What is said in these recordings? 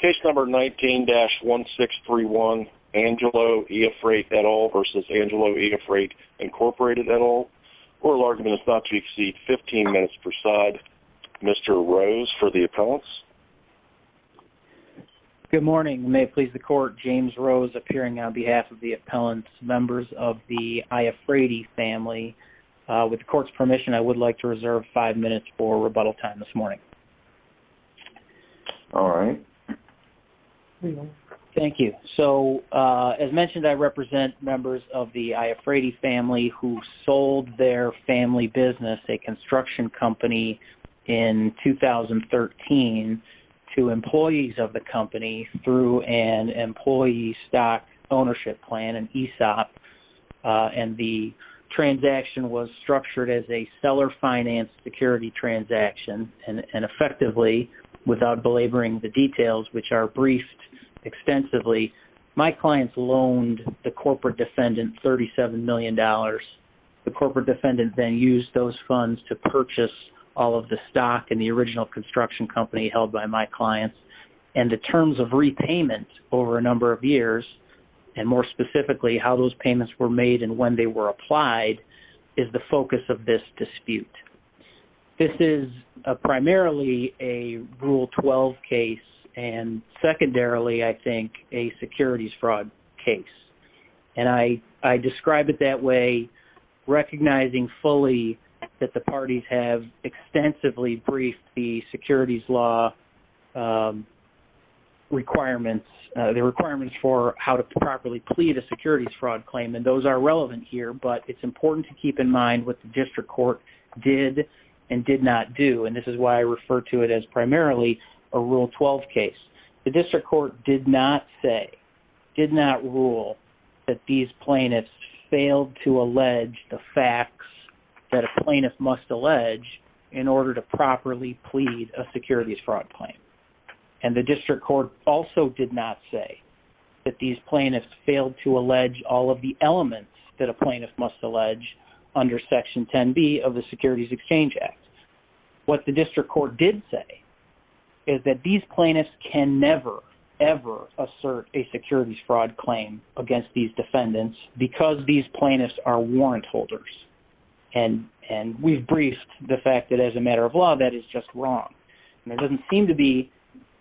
Case number 19-1631, Angelo E. Afrate et al. v. Angelo E. Afrate Inc. et al. Court of argument is not to exceed 15 minutes per side. Mr. Rose for the appellants. Good morning. May it please the court, James Rose appearing on behalf of the appellants, members of the I. Afrate family. With the court's permission, I would like to reserve five minutes for rebuttal time this morning. All right. Thank you. So, as mentioned, I represent members of the I. Afrate family who sold their family business, a construction company, in 2013 to employees of the company through an employee stock ownership plan, an ESOP. And the transaction was structured as a seller finance security transaction, and effectively, without belaboring the details, which are briefed extensively, my clients loaned the corporate defendant $37 million. The corporate defendant then used those funds to purchase all of the stock in the original construction company held by my clients. And the terms of repayment over a number of years, and more specifically, how those payments were made and when they were applied, is the focus of this dispute. This is primarily a Rule 12 case, and secondarily, I think, a securities fraud case. And I describe it that way, recognizing fully that the parties have extensively briefed the securities law requirements, the requirements for how to properly plead a securities fraud claim. And those are relevant here, but it's important to keep in mind what the district court did and did not do. And this is why I refer to it as primarily a Rule 12 case. The district court did not say, did not rule, that these plaintiffs failed to allege the facts that a plaintiff must allege in order to properly plead a securities fraud claim. And the district court also did not say that these plaintiffs failed to allege all of the elements that a plaintiff must allege under Section 10b of the Securities Exchange Act. What the district court did say is that these plaintiffs can never, ever assert a securities fraud claim against these defendants because these plaintiffs are warrant holders. And we've briefed the fact that as a matter of law, that is just wrong. And there doesn't seem to be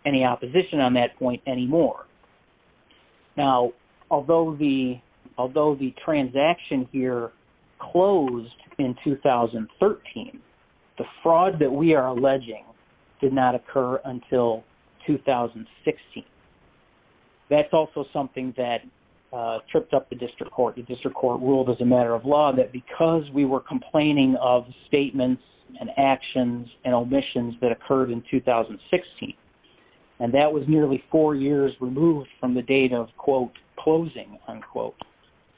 any opposition on that point anymore. Now, although the transaction here closed in 2013, the fraud that we are alleging did not occur until 2016. That's also something that tripped up the district court. The district court ruled as a matter of law that because we were complaining of statements and actions and omissions that occurred in 2016, and that was nearly four years removed from the date of, quote, closing, unquote,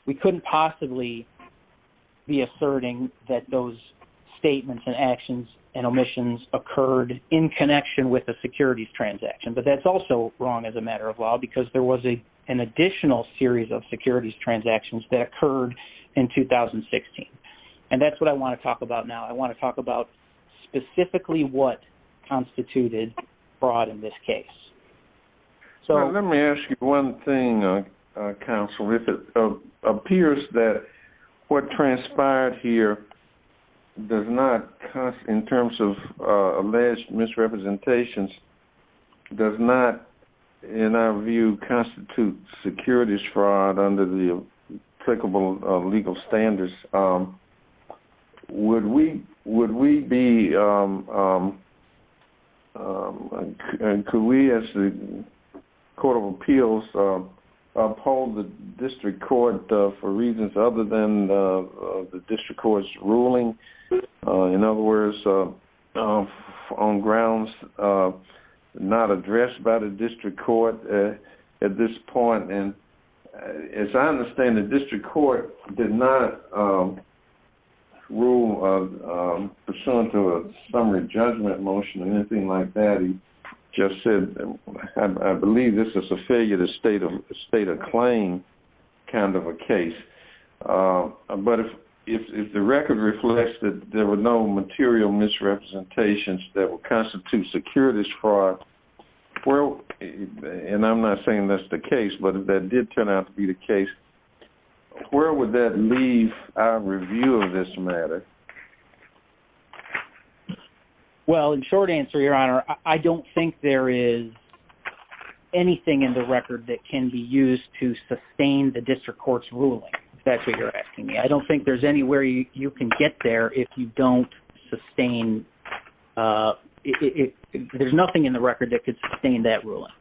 we couldn't possibly be asserting that those statements and actions and omissions occurred in connection with a securities transaction. But that's also wrong as a matter of law because there was an additional series of securities transactions that occurred in 2016. And that's what I want to talk about now. I want to talk about specifically what constituted fraud in this case. Let me ask you one thing, counsel. If it appears that what transpired here does not, in terms of alleged misrepresentations, does not, in our view, constitute securities fraud under the applicable legal standards, would we be, and could we as the court of appeals uphold the district court for reasons other than the district court's ruling? In other words, on grounds not addressed by the district court at this point. As I understand it, the district court did not rule pursuant to a summary judgment motion or anything like that. He just said, I believe this is a failure to state a claim kind of a case. But if the record reflects that there were no material misrepresentations that would constitute securities fraud, and I'm not saying that's the case, but if that did turn out to be the case, where would that leave our review of this matter? Well, in short answer, your honor, I don't think there is anything in the record that can be used to sustain the district court's ruling, if that's what you're asking me. I don't think there's anywhere you can get there if you don't sustain, there's nothing in the record that could sustain that ruling.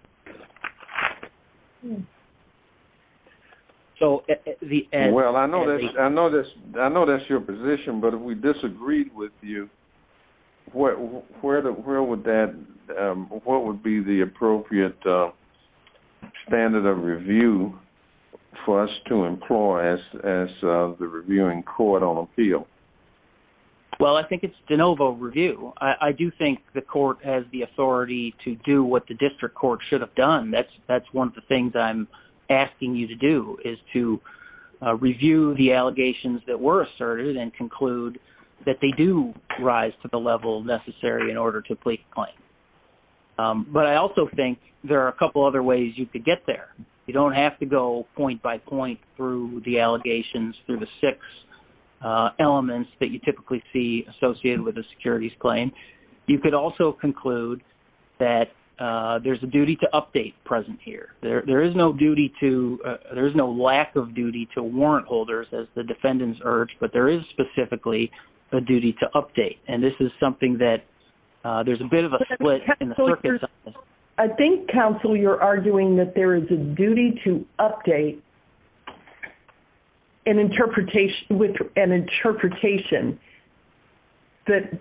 Well, I know that's your position, but if we disagreed with you, where would that, what would be the appropriate standard of review for us to employ as the reviewing court on appeal? Well, I think it's de novo review. I do think the court has the authority to do what the district court should have done. That's one of the things I'm asking you to do, is to review the allegations that were asserted and conclude that they do rise to the level necessary in order to plead the claim. But I also think there are a couple other ways you could get there. You don't have to go point by point through the allegations, through the six elements that you typically see associated with a securities claim. You could also conclude that there's a duty to update present here. There is no duty to, there is no lack of duty to warrant holders, as the defendants urged, but there is specifically a duty to update. And this is something that, there's a bit of a split in the circuit. I think, counsel, you're arguing that there is a duty to update an interpretation with an interpretation that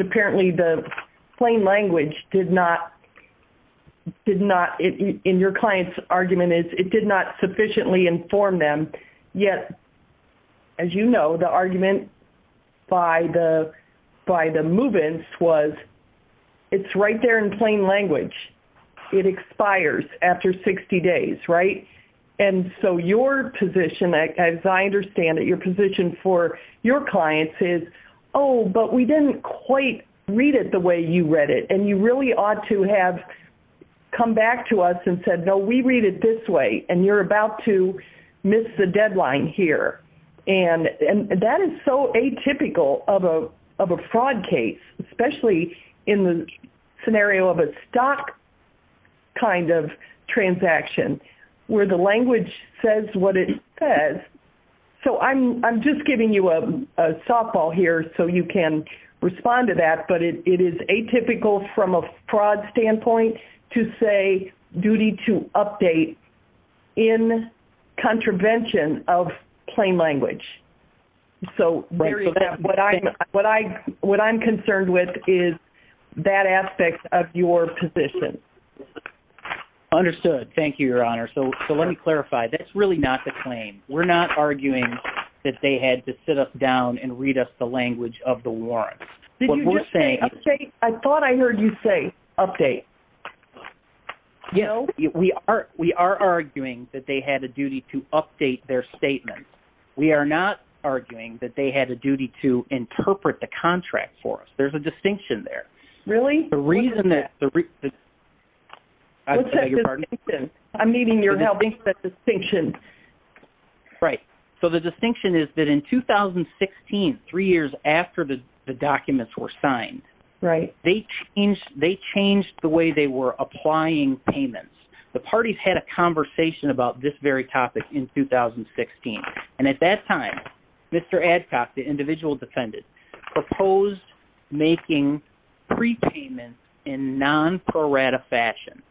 apparently the plain language did not, did not, in your client's argument, it did not sufficiently inform them. Yet, as you know, the argument by the move-ins was, it's right there in plain language. It expires after 60 days, right? And so your position, as I understand it, your position for your clients is, oh, but we didn't quite read it the way you read it. And you really ought to have come back to us and said, no, we read it this way, and you're about to miss the deadline here. And that is so atypical of a fraud case, especially in the scenario of a stock kind of transaction, where the language says what it says. So I'm just giving you a softball here so you can respond to that, but it is atypical from a fraud standpoint to say duty to update in contravention of plain language. So what I'm concerned with is that aspect of your position. Understood. Thank you, Your Honor. So let me clarify. That's really not the claim. We're not arguing that they had to sit us down and read us the language of the warrants. Did you just say update? I thought I heard you say update. We are arguing that they had a duty to update their statement. We are not arguing that they had a duty to interpret the contract for us. There's a distinction there. Really? I'm needing your help with that distinction. Right. So the distinction is that in 2016, three years after the documents were signed, they changed the way they were applying payments. The parties had a conversation about this very topic in 2016. And at that time, Mr. Adcock, the individual defendant, proposed making pre-payments in non-pro rata fashion.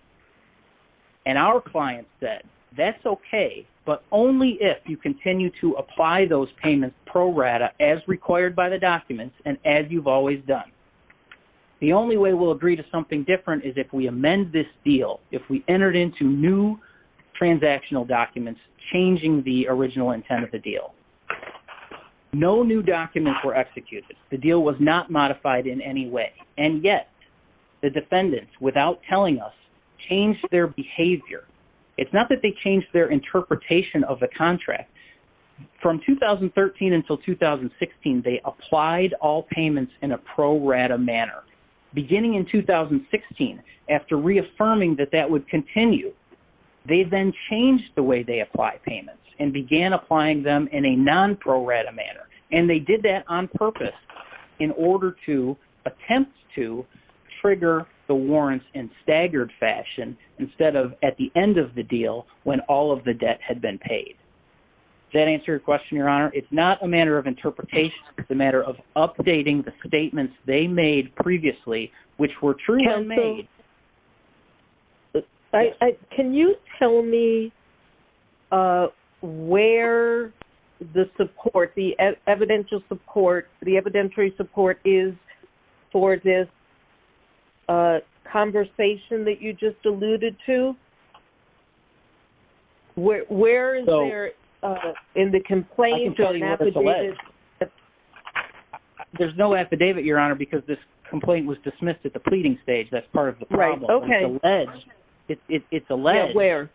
And our client said, that's okay, but only if you continue to apply those payments pro rata as required by the documents and as you've always done. The only way we'll agree to something different is if we amend this deal. If we entered into new transactional documents, changing the original intent of the deal. No new documents were executed. The deal was not modified in any way. And yet, the defendants, without telling us, changed their behavior. It's not that they changed their interpretation of the contract. From 2013 until 2016, they applied all payments in a pro rata manner. Beginning in 2016, after reaffirming that that would continue, they then changed the way they applied payments and began applying them in a non-pro rata manner. And they did that on purpose in order to attempt to trigger the warrants in staggered fashion instead of at the end of the deal when all of the debt had been paid. Does that answer your question, Your Honor? It's not a matter of interpretation. It's a matter of updating the statements they made previously, which were truly made. Can you tell me where the support, the evidential support, the evidentiary support is for this conversation that you just alluded to? Where is there in the complaint? I can tell you where it's alleged. There's no affidavit, Your Honor, because this complaint was dismissed at the pleading stage. That's part of the problem. It's alleged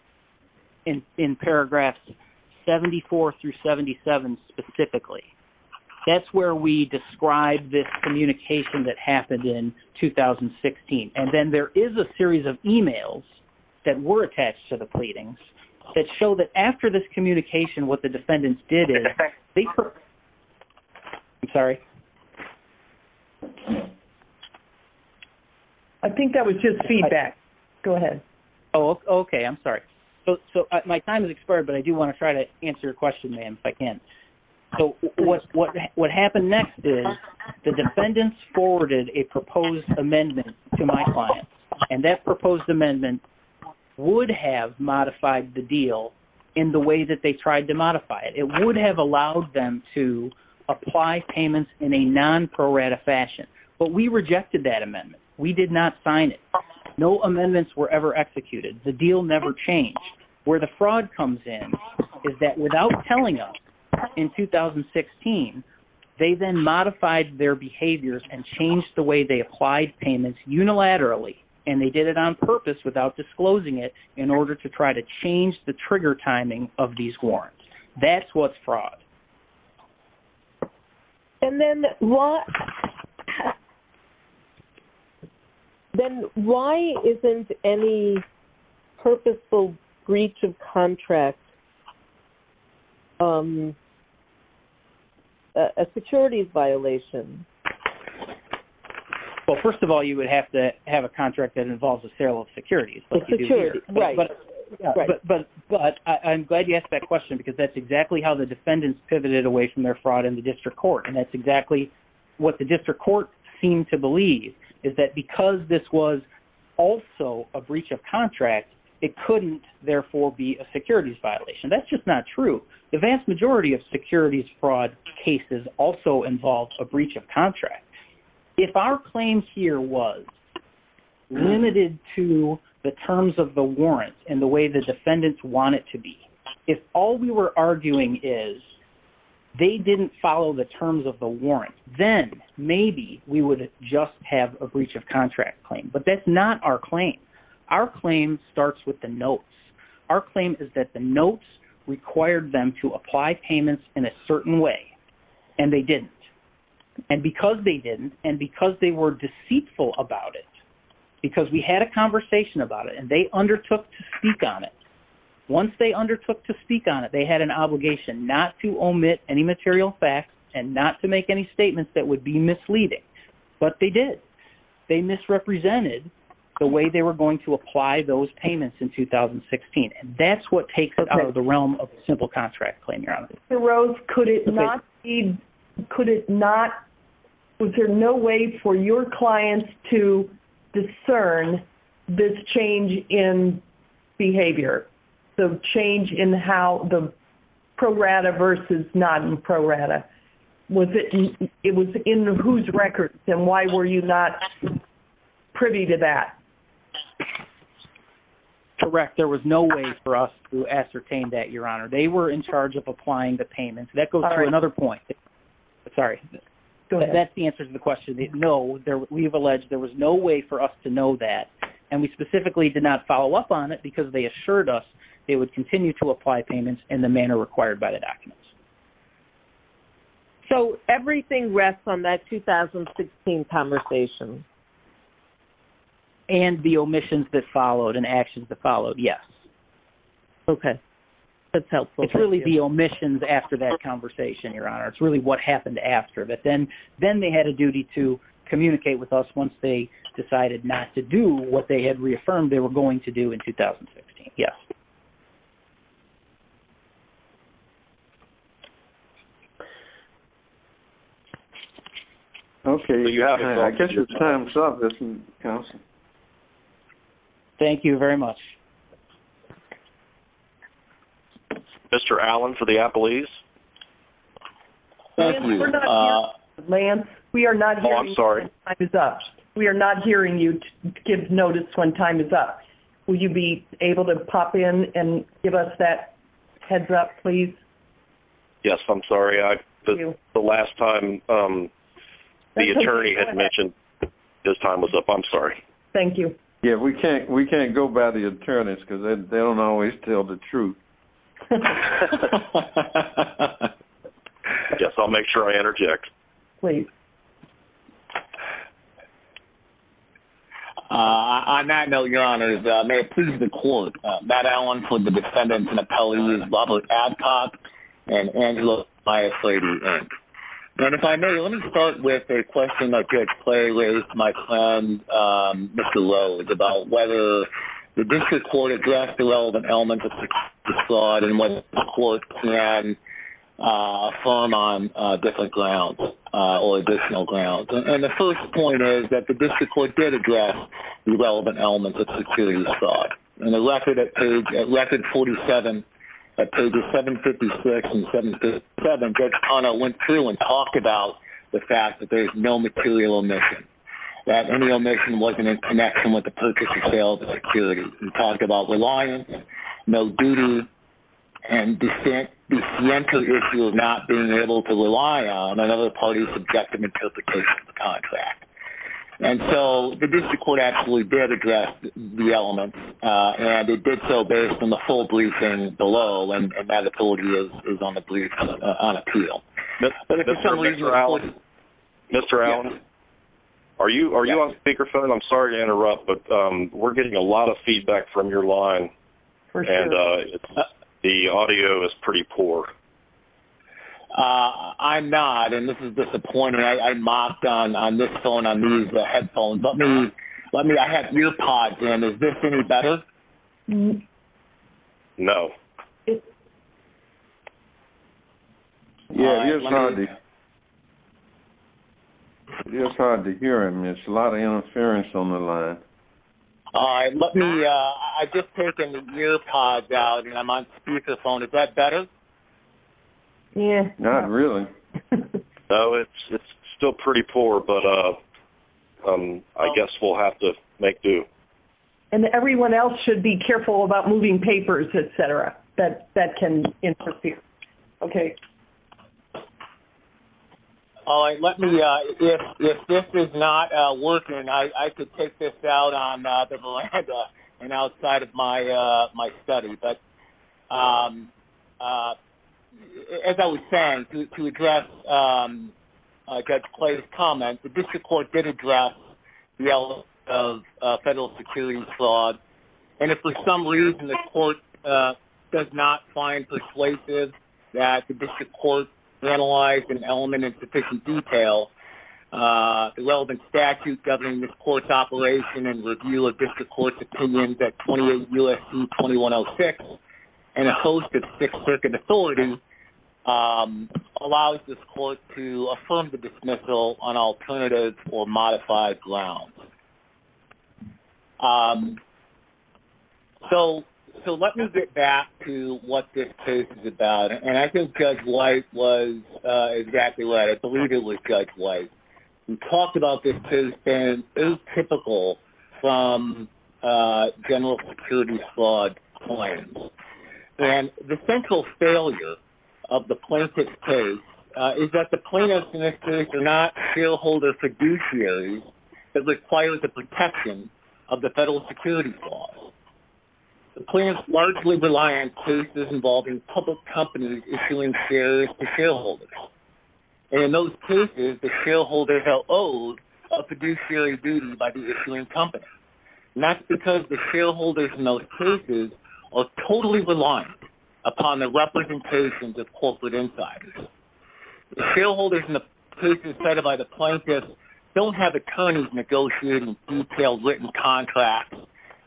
in paragraphs 74 through 77 specifically. That's where we describe this communication that happened in 2016. And then there is a series of e-mails that were attached to the pleadings that show that after this communication, what the defendants did is... I think that was just feedback. Go ahead. Oh, okay. I'm sorry. My time has expired, but I do want to try to answer your question, ma'am, if I can. What happened next is the defendants forwarded a proposed amendment to my clients. And that proposed amendment would have modified the deal in the way that they tried to modify it. It would have allowed them to apply payments in a non-prorata fashion. But we rejected that amendment. We did not sign it. No amendments were ever executed. The deal never changed. Where the fraud comes in is that without telling us in 2016, they then modified their behaviors and changed the way they applied payments unilaterally, and they did it on purpose without disclosing it, in order to try to change the trigger timing of these warrants. That's what's fraud. And then why isn't any purposeful breach of contract a securities violation? Well, first of all, you would have to have a contract that involves a serial securities, like you do here. Right. But I'm glad you asked that question because that's exactly how the defendants pivoted away from their fraud in the district court, and that's exactly what the district court seemed to believe, is that because this was also a breach of contract, it couldn't, therefore, be a securities violation. That's just not true. The vast majority of securities fraud cases also involve a breach of contract. If our claim here was limited to the terms of the warrant and the way the defendants want it to be, if all we were arguing is they didn't follow the terms of the warrant, then maybe we would just have a breach of contract claim. But that's not our claim. Our claim starts with the notes. Our claim is that the notes required them to apply payments in a certain way, and they didn't. And because they didn't, and because they were deceitful about it, because we had a conversation about it, and they undertook to speak on it. Once they undertook to speak on it, they had an obligation not to omit any material facts and not to make any statements that would be misleading. But they did. They misrepresented the way they were going to apply those payments in 2016, and that's what takes it out of the realm of a simple contract claim, Your Honor. Mr. Rose, could it not be, could it not, was there no way for your clients to discern this change in behavior, the change in how the pro rata versus non pro rata? Was it, it was in whose records, and why were you not privy to that? Correct. There was no way for us to ascertain that, Your Honor. They were in charge of applying the payments. That goes to another point. Sorry. That's the answer to the question. No, we have alleged there was no way for us to know that, and we specifically did not follow up on it because they assured us they would continue to apply payments in the manner required by the documents. So everything rests on that 2016 conversation. And the omissions that followed and actions that followed, yes. Okay. That's helpful. It's really the omissions after that conversation, Your Honor. It's really what happened after. But then they had a duty to communicate with us once they decided not to do what they had reaffirmed they were going to do in 2016. Yes. Okay. I guess your time's up, Counsel. Thank you very much. Mr. Allen for the appellees. Lance, we are not hearing you when time is up. We are not hearing you give notice when time is up. Will you be able to pop in and give us that heads up, please? Yes, I'm sorry. The last time the attorney had mentioned his time was up. I'm sorry. Thank you. Yeah, we can't go by the attorneys because they don't always tell the truth. I guess I'll make sure I interject. Please. On that note, Your Honor, may it please the Court, Matt Allen for the defendants and appellees, Robert Adcock, and Angela Mias-Lady. And if I may, let me start with a question that Judge Clay raised to my client, Mr. Rhodes, about whether the district court addressed the relevant elements of security fraud and whether the court can affirm on different grounds or additional grounds. And the first point is that the district court did address the relevant elements of security fraud. In the record at page 47, at pages 756 and 757, Judge Connell went through and talked about the fact that there is no material omission, that any omission wasn't in connection with the purchase of sales and security. He talked about reliance, no duty, and dissenter issue of not being able to rely on another party's subjective interpretation of the contract. And so the district court actually did address the elements, and it did so based on the full briefing below, and Matt, I told you, is on the brief on appeal. Mr. Allen, are you on speakerphone? I'm sorry to interrupt, but we're getting a lot of feedback from your line, and the audio is pretty poor. I'm not, and this is disappointing. I mocked on this phone, on these headphones. Let me, I have ear pods in. Is this any better? No. Yeah, it's hard to hear him. There's a lot of interference on the line. All right. Let me, I've just taken the ear pods out, and I'm on speakerphone. Is that better? Yeah. Not really. No, it's still pretty poor, but I guess we'll have to make do. And everyone else should be careful about moving papers, et cetera, that can interfere. Okay. All right. Let me, if this is not working, I could take this out on the Valenza and outside of my study, but as I was saying, to address Judge Clay's comments, the district court did address the element of federal security fraud, and if for some reason the court does not find persuasive that the district court analyzed an element in sufficient detail, the relevant statute governing this court's operation and review of district court's opinion, that 28 U.S.C. 2106 and a host of Sixth Circuit authorities allows this court to affirm the dismissal on alternative or modified grounds. So let me get back to what this case is about, and I think Judge White was exactly right. I believe it was Judge White who talked about this case being atypical from general security fraud claims, and the central failure of the plaintiff's case is that the plaintiffs in this case are not shareholder fiduciaries. It requires the protection of the federal security clause. The plaintiffs largely rely on cases involving public companies issuing shares to shareholders, and in those cases the shareholders are owed a fiduciary duty by the issuing company, and that's because the shareholders in those cases are totally reliant upon the representations of corporate insiders. The shareholders and the persons cited by the plaintiffs don't have attorneys negotiating detailed written contracts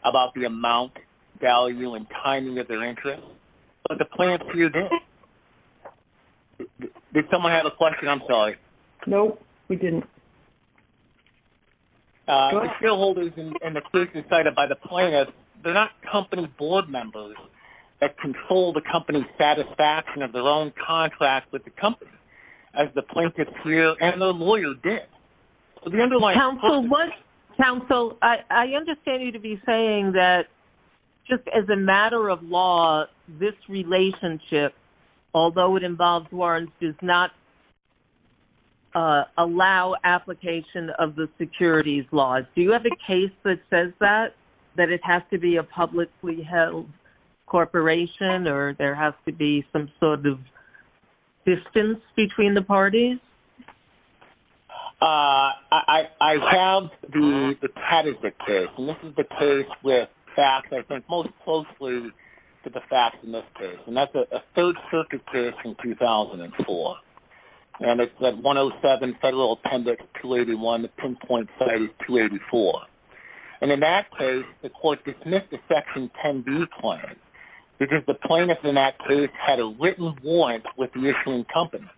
about the amount, value, and timing of their interest, but the plaintiffs do. Did someone have a question? I'm sorry. No, we didn't. The shareholders and the persons cited by the plaintiffs, they're not company board members that control the company's satisfaction of their own contracts with the company, as the plaintiffs here and their lawyer did. Counsel, I understand you to be saying that just as a matter of law, this relationship, although it involves warrants, does not allow application of the securities laws. Do you have a case that says that, that it has to be a publicly held corporation or there has to be some sort of distance between the parties? I have the Tadiza case, and this is the case with facts, I think, most closely to the facts in this case, and that's a Third Circuit case from 2004, and it's that 107 Federal Appendix 281, and the pinpoint site is 284. And in that case, the court dismissed the Section 10b claim, because the plaintiff in that case had a written warrant with the issuing company.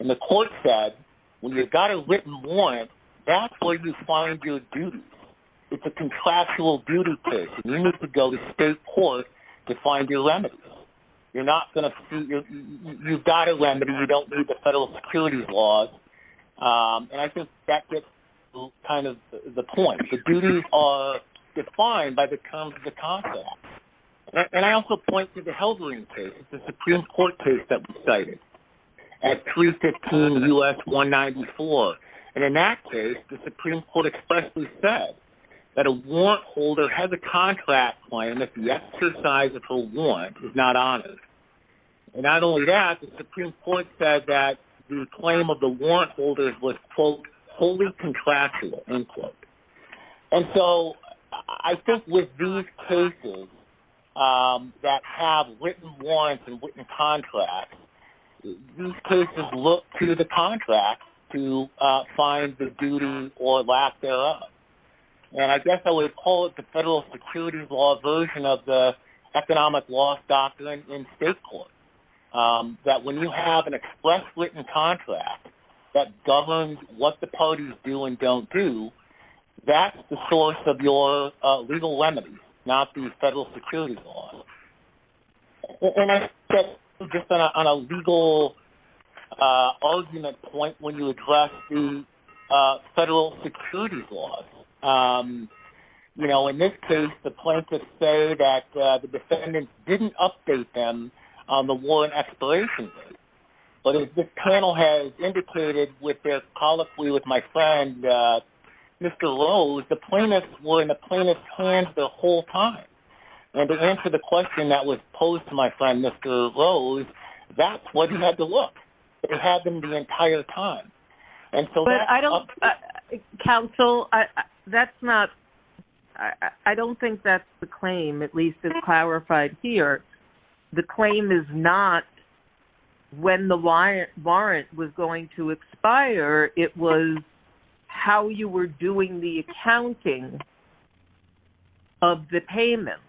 And the court said, when you've got a written warrant, that's where you find your duties. It's a contractual duty case, and you need to go to state court to find your remedies. You're not going to see, you've got a remedy, you don't need the federal securities laws, and I think that gets kind of the point. The duties are defined by the terms of the contract. And I also point to the Heldren case, the Supreme Court case that we cited, at 315 U.S. 194. And in that case, the Supreme Court expressly said that a warrant holder has a contract claim if the exercise of her warrant is not honored. And not only that, the Supreme Court said that the claim of the warrant holder was, quote, wholly contractual, end quote. And so I think with these cases that have written warrants and written contracts, these cases look to the contracts to find the duty or lack thereof. And I guess I would call it the federal securities law version of the economic loss doctrine in state court, that when you have an express written contract that governs what the parties do and don't do, that's the source of your legal remedies, not the federal securities law. And I sit just on a legal argument point when you address the federal securities laws. You know, in this case, the plaintiffs say that the defendants didn't update them on the warrant expiration date. But as this panel has indicated with their colloquy with my friend Mr. Rose, the plaintiffs were in the plaintiff's hands the whole time. And to answer the question that was posed to my friend Mr. Rose, that's what he had to look. It had been the entire time. But I don't, counsel, that's not, I don't think that's the claim at least as clarified here. The claim is not when the warrant was going to expire. It was how you were doing the accounting of the payment.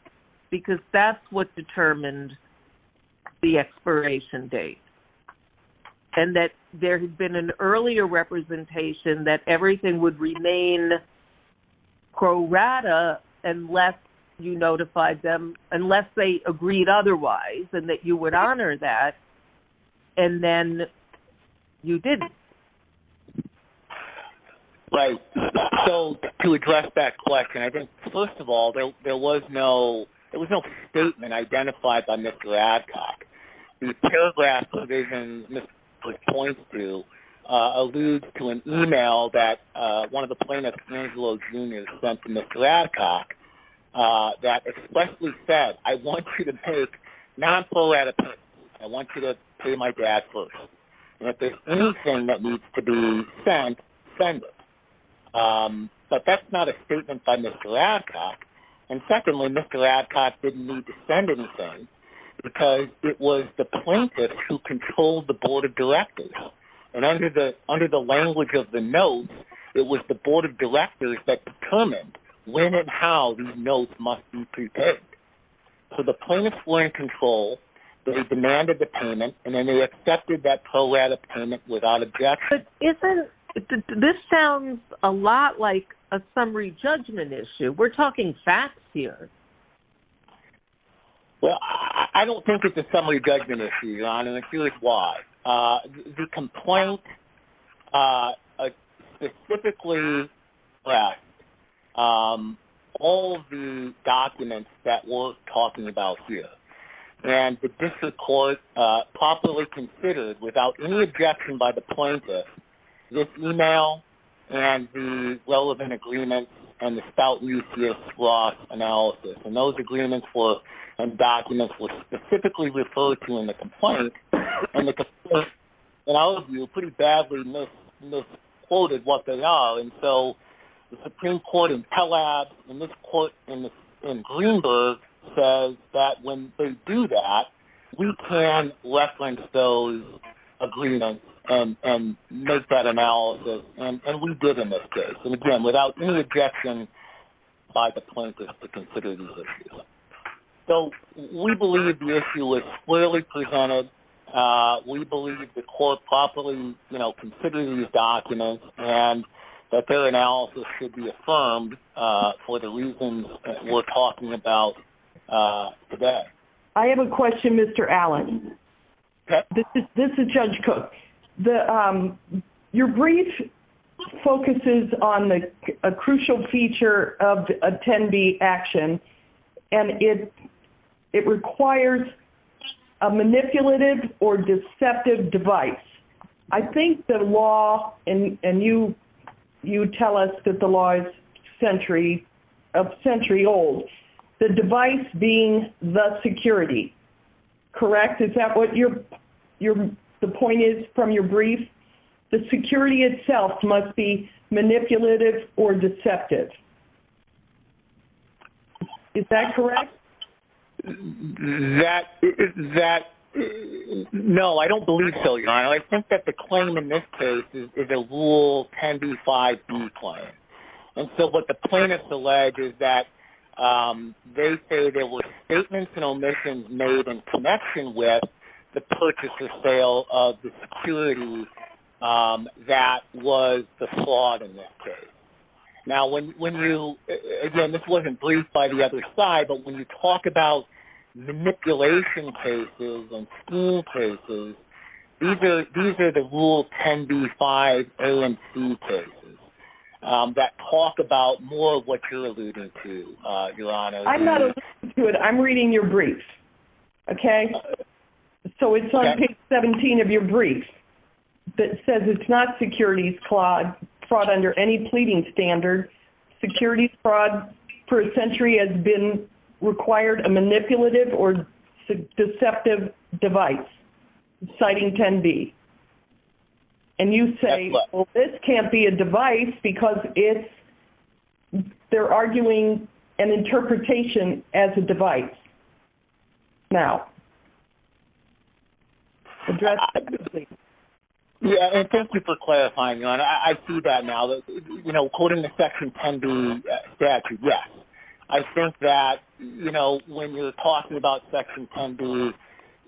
Because that's what determined the expiration date. And that there had been an earlier representation that everything would remain pro rata unless you notified them, unless they agreed otherwise, and that you would honor that. And then you didn't. Right. So to address that question, I think, first of all, there was no statement identified by Mr. Adcock. The paragraph provision Mr. Adcock points to alludes to an e-mail that one of the plaintiffs, Angelo Jr., sent to Mr. Adcock that expressly said, I want you to pay non-pro rata payments. I want you to pay my dad first. And if there's anything that needs to be sent, send it. But that's not a statement by Mr. Adcock. And secondly, Mr. Adcock didn't need to send anything because it was the plaintiffs who controlled the board of directors. And under the language of the notes, it was the board of directors that determined when and how these notes must be prepared. So the plaintiffs were in control. They demanded the payment. And then they accepted that pro rata payment without objection. But this sounds a lot like a summary judgment issue. We're talking facts here. Well, I don't think it's a summary judgment issue, Your Honor, and I'm curious why. The complaint specifically asked all the documents that we're talking about here. And the district court properly considered, without any objection by the plaintiffs, this e-mail and the relevant agreements and the Spout-Lucius-Ross analysis. And those agreements and documents were specifically referred to in the complaint. And the complaint, in our view, pretty badly misquoted what they are. And so the Supreme Court in Pell Labs and this court in Greenberg says that when they do that, we can reference those agreements and make that analysis. And we did in this case. And, again, without any objection by the plaintiffs to consider these issues. So we believe the issue was clearly presented. We believe the court properly, you know, considered these documents and that their analysis should be affirmed for the reasons we're talking about today. I have a question, Mr. Allen. This is Judge Cook. Your brief focuses on a crucial feature of attendee action, and it requires a manipulative or deceptive device. I think the law, and you tell us that the law is a century old, the device being the security. Correct? Yes, is that what the point is from your brief? The security itself must be manipulative or deceptive. Is that correct? No, I don't believe so, Your Honor. I think that the claim in this case is a Rule 10b-5b claim. And so what the plaintiffs allege is that they say there were statements and omissions made in connection with the purchase or sale of the security that was the fraud in this case. Now, again, this wasn't briefed by the other side, but when you talk about manipulation cases and scheme cases, these are the Rule 10b-5 A and C cases that talk about more of what you're alluding to, Your Honor. I'm not alluding to it. I'm reading your brief, okay? So it's on page 17 of your brief that says it's not securities fraud under any pleading standard. Securities fraud for a century has been required a manipulative or deceptive device, citing 10b. And you say, well, this can't be a device because they're arguing an interpretation as a device. Now, address that, please. Thank you for clarifying, Your Honor. I see that now. You know, quoting the Section 10b statute, yes. I think that, you know, when you're talking about Section 10b,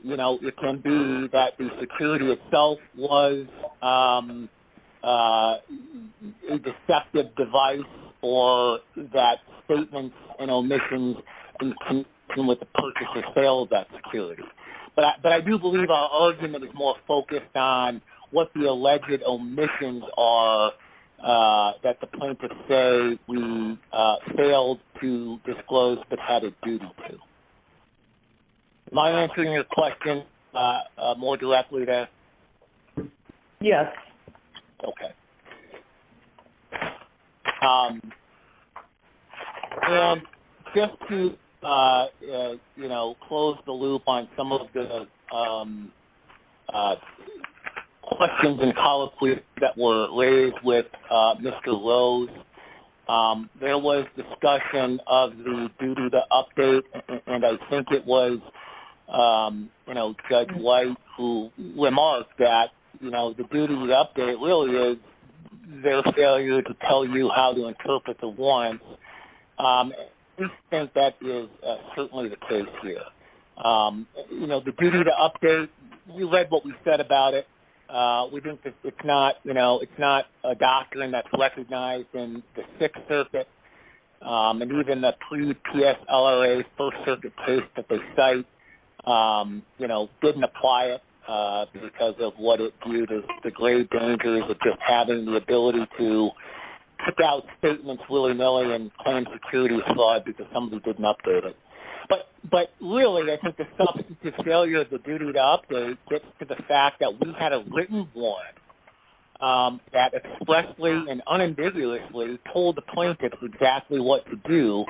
you know, it can be that the security itself was a deceptive device or that statements and omissions in connection with the purchase or sale of that security. But I do believe our argument is more focused on what the alleged omissions are that the plaintiffs say we failed to disclose but had a duty to. Am I answering your question more directly there? Yes. Okay. And just to, you know, close the loop on some of the questions and colloquies that were raised with Mr. Rose, there was discussion of the duty to update, and I think it was, you know, Judge White who remarked that, you know, the duty to update really is their failure to tell you how to interpret the warrants. We think that is certainly the case here. You know, the duty to update, we read what we said about it. We think that it's not, you know, it's not a doctrine that's recognized in the Sixth Circuit, and even the pre-PSLRA First Circuit case that they cite, you know, didn't apply it because of what it viewed as the grave dangers of just having the ability to kick out statements willy-nilly and claim security fraud because somebody didn't update it. But really, I think the substantive failure of the duty to update gets to the fact that we had a written warrant that expressly and unambiguously told the plaintiff exactly what to do,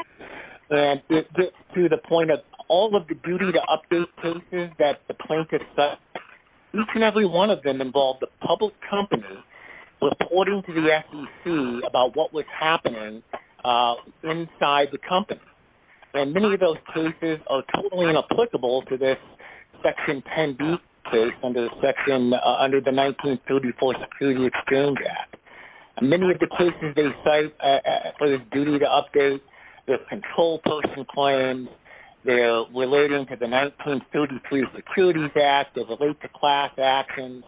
and it gets to the point of all of the duty to update cases that the plaintiff cited, each and every one of them involved a public company reporting to the SEC about what was happening inside the company. And many of those cases are totally inapplicable to this Section 10B case under the 1934 Security Exchange Act. Many of the cases they cite for this duty to update, they're control person claims, they're relating to the 1933 Securities Act, they relate to class actions,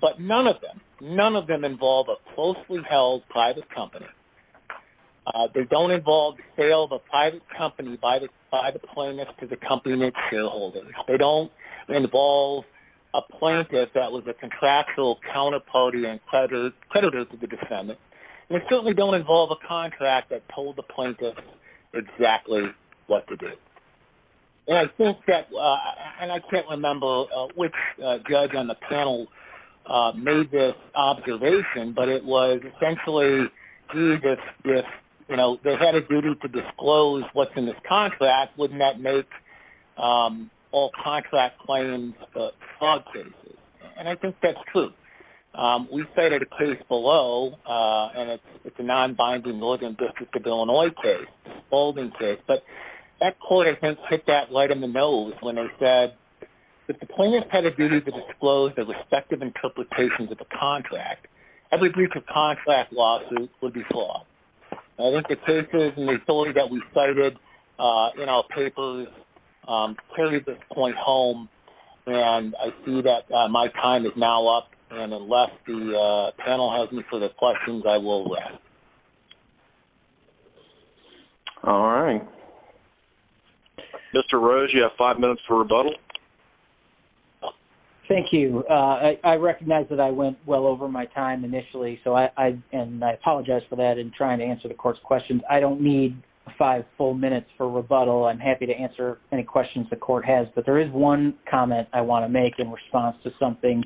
but none of them, none of them involve a closely held private company. They don't involve sale of a private company by the plaintiff to the company and its shareholders. They don't involve a plaintiff that was a contractual counterparty and creditor to the defendant, and they certainly don't involve a contract that told the plaintiff exactly what to do. And I think that, and I can't remember which judge on the panel made this observation, but it was essentially, gee, if they had a duty to disclose what's in this contract, wouldn't that make all contract claims fraud cases? And I think that's true. We cited a case below, and it's a non-binding Northern District of Illinois case, a spalding case. But that court, I think, hit that right in the nose when they said, if the plaintiff had a duty to disclose their respective interpretations of the contract, every brief of contract lawsuit would be flawed. I think the cases and the authority that we cited in our papers carry this point home, and I see that my time is now up, and unless the panel has any further questions, I will rest. All right. Mr. Rose, you have five minutes for rebuttal. Thank you. I recognize that I went well over my time initially, and I apologize for that in trying to answer the court's questions. I don't need five full minutes for rebuttal. I'm happy to answer any questions the court has, but there is one comment I want to make in response to something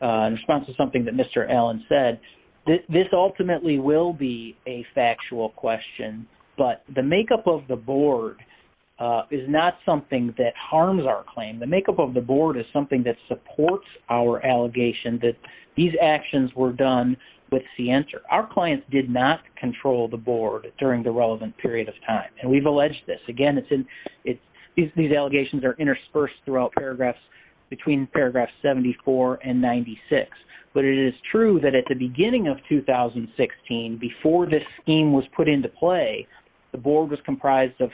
that Mr. Allen said. This ultimately will be a factual question, but the makeup of the board is not something that harms our claim. The makeup of the board is something that supports our allegation that these actions were done with scienter. Our clients did not control the board during the relevant period of time, and we've alleged this. Again, these allegations are interspersed throughout paragraphs between paragraphs 74 and 96, but it is true that at the beginning of 2016, before this scheme was put into play, the board was comprised of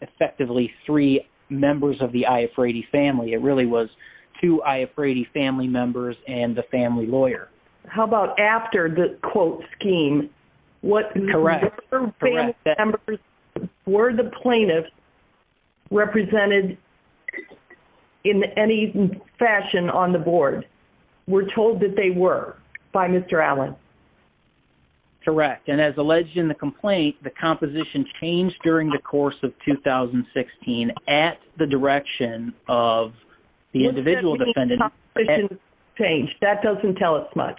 effectively three members of the I. F. Rady family. It really was two I. F. Rady family members and the family lawyer. How about after the quote scheme? Correct. Were the plaintiffs represented in any fashion on the board? We're told that they were by Mr. Allen. Correct. And as alleged in the complaint, the composition changed during the course of 2016 at the direction of the individual defendant. That doesn't tell us much.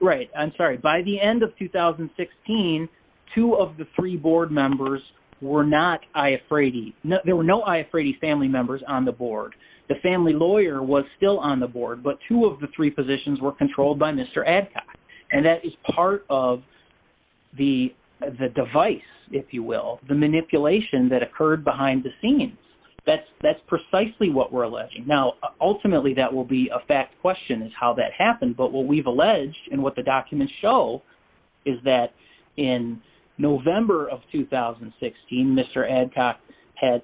Right. I'm sorry. By the end of 2016, two of the three board members were not I. F. Rady. There were no I. F. Rady family members on the board. The family lawyer was still on the board, but two of the three positions were controlled by Mr. Adcock, and that is part of the device, if you will, the manipulation that occurred behind the scenes. That's precisely what we're alleging. Now, ultimately, that will be a fact question is how that happened, but what we've alleged and what the documents show is that in November of 2016, Mr. Adcock had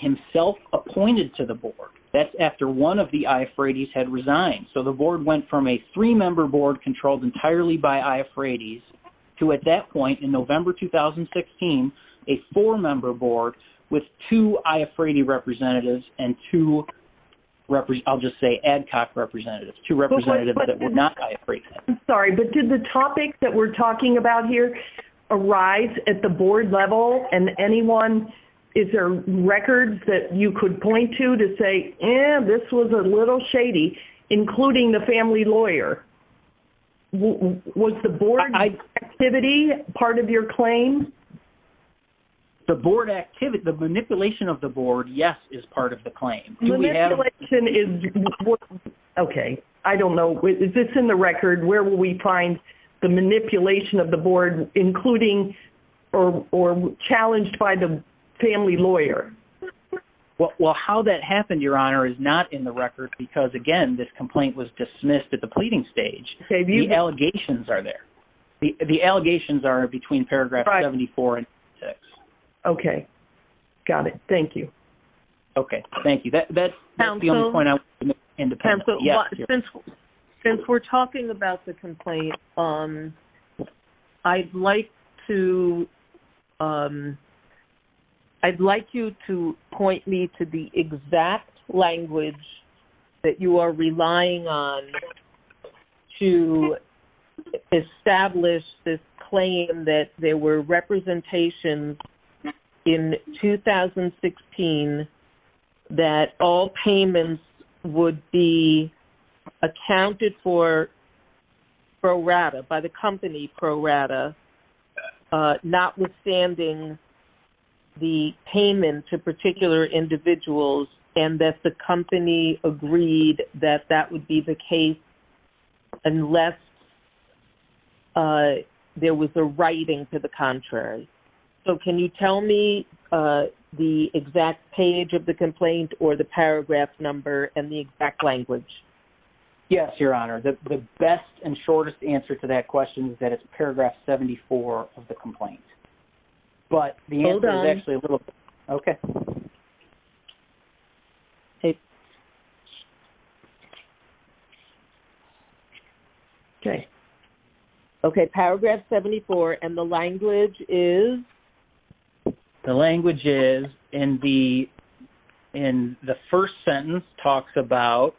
himself appointed to the board. That's after one of the I. F. Rady's had resigned. So the board went from a three-member board controlled entirely by I. F. Rady's to, at that point in November 2016, a four-member board with two I. F. Rady representatives and two, I'll just say Adcock representatives, two representatives that were not I. F. Rady's. I'm sorry, but did the topic that we're talking about here arise at the board level, and anyone, is there records that you could point to to say, eh, this was a little shady, including the family lawyer? Was the board activity part of your claim? The board activity, the manipulation of the board, yes, is part of the claim. Manipulation is, okay, I don't know. Is this in the record? Where will we find the manipulation of the board, including or challenged by the family lawyer? Well, how that happened, Your Honor, is not in the record because, again, this complaint was dismissed at the pleading stage. The allegations are there. The allegations are between paragraph 74 and 76. Okay. Got it. Thank you. Okay. Thank you. That's the only point I want to make independently. Since we're talking about the complaint, I'd like to, I'd like you to point me to the exact language that you are relying on to establish this claim that there were representations in 2016 that all payments would be accounted for pro rata, by the company pro rata, notwithstanding the payment to particular individuals, and that the company agreed that that would be the case unless there was a writing to the contrary. So can you tell me the exact page of the complaint or the paragraph number and the exact language? Yes, Your Honor. The best and shortest answer to that question is that it's paragraph 74 of the complaint. Hold on. But the answer is actually a little bit. Okay. Okay. Okay. Paragraph 74 and the language is? The language is in the first sentence talks about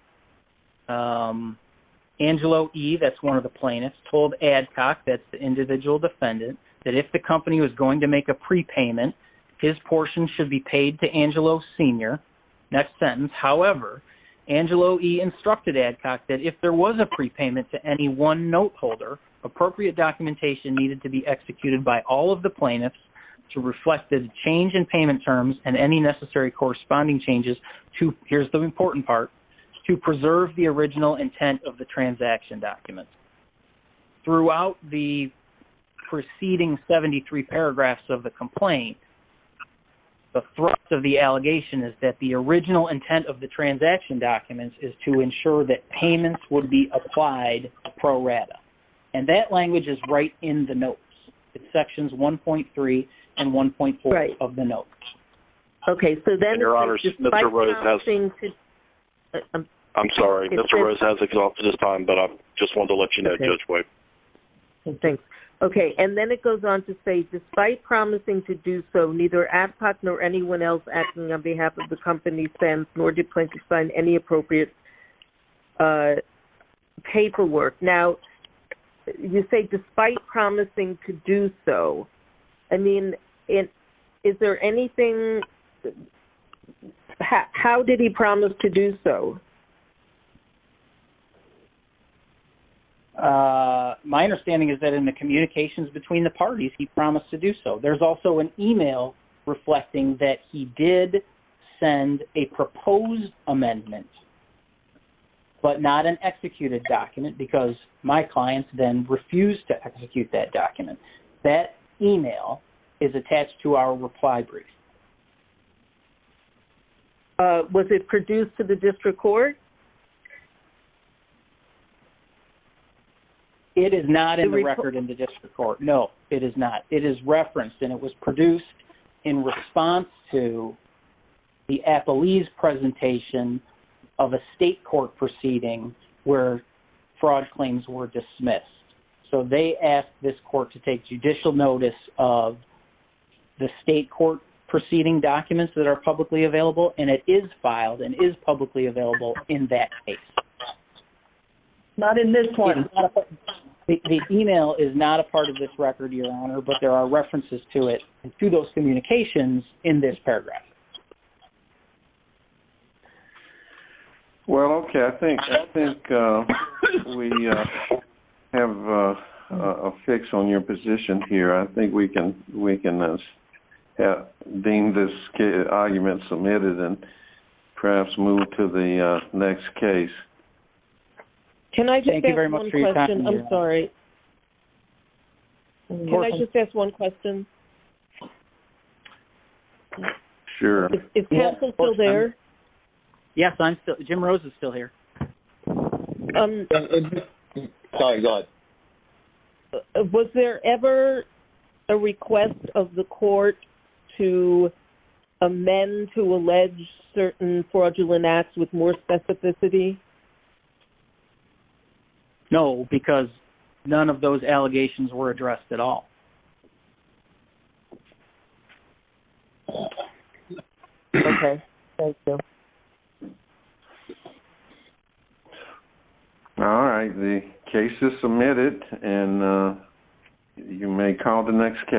Angelo E., that's one of the plaintiffs, told Adcock, that's the individual defendant, that if the company was going to make a prepayment, his portion should be paid to Angelo Sr. Next sentence, however, Angelo E. instructed Adcock that if there was a prepayment to any one note holder, appropriate documentation needed to be executed by all of the plaintiffs to reflect the change in payment terms and any necessary corresponding changes to, here's the important part, to preserve the original intent of the transaction documents. Throughout the preceding 73 paragraphs of the complaint, the thrust of the allegation is that the original intent of the transaction documents is to ensure that And that language is right in the notes. It's sections 1.3 and 1.4 of the notes. Right. Okay. So then. Your Honor, Mr. Rose has. I'm sorry. Mr. Rose has exhausted his time, but I just wanted to let you know, Judge White. Okay. Thanks. Okay. And then it goes on to say, despite promising to do so, neither Adcock nor anyone else acting on behalf of the company, nor did plaintiffs sign any appropriate paperwork. Now, you say despite promising to do so. I mean, is there anything? How did he promise to do so? My understanding is that in the communications between the parties, he promised to do so. There's also an e-mail reflecting that he did send a proposed amendment, but not an executed document because my clients then refused to execute that document. That e-mail is attached to our reply brief. Was it produced to the district court? It is not in the record in the district court. No, it is not. It is referenced, and it was produced in response to the Appalese presentation of a state court proceeding where fraud claims were dismissed. So they asked this court to take judicial notice of the state court proceeding documents that are publicly available, and it is filed and is publicly available in that case. Not in this one. The e-mail is not a part of this record, Your Honor, but there are references to it through those communications in this paragraph. Well, okay. I think we have a fix on your position here. I think we can deem this argument submitted and perhaps move to the next case. Can I just ask one question? I'm sorry. Can I just ask one question? Sure. Is Castle still there? Yes, Jim Rose is still here. Sorry, go ahead. Was there ever a request of the court to amend to allege certain fraudulent acts with more specificity? No, because none of those allegations were addressed at all. Okay. Thank you. All right. The case is submitted, and you may call the next case.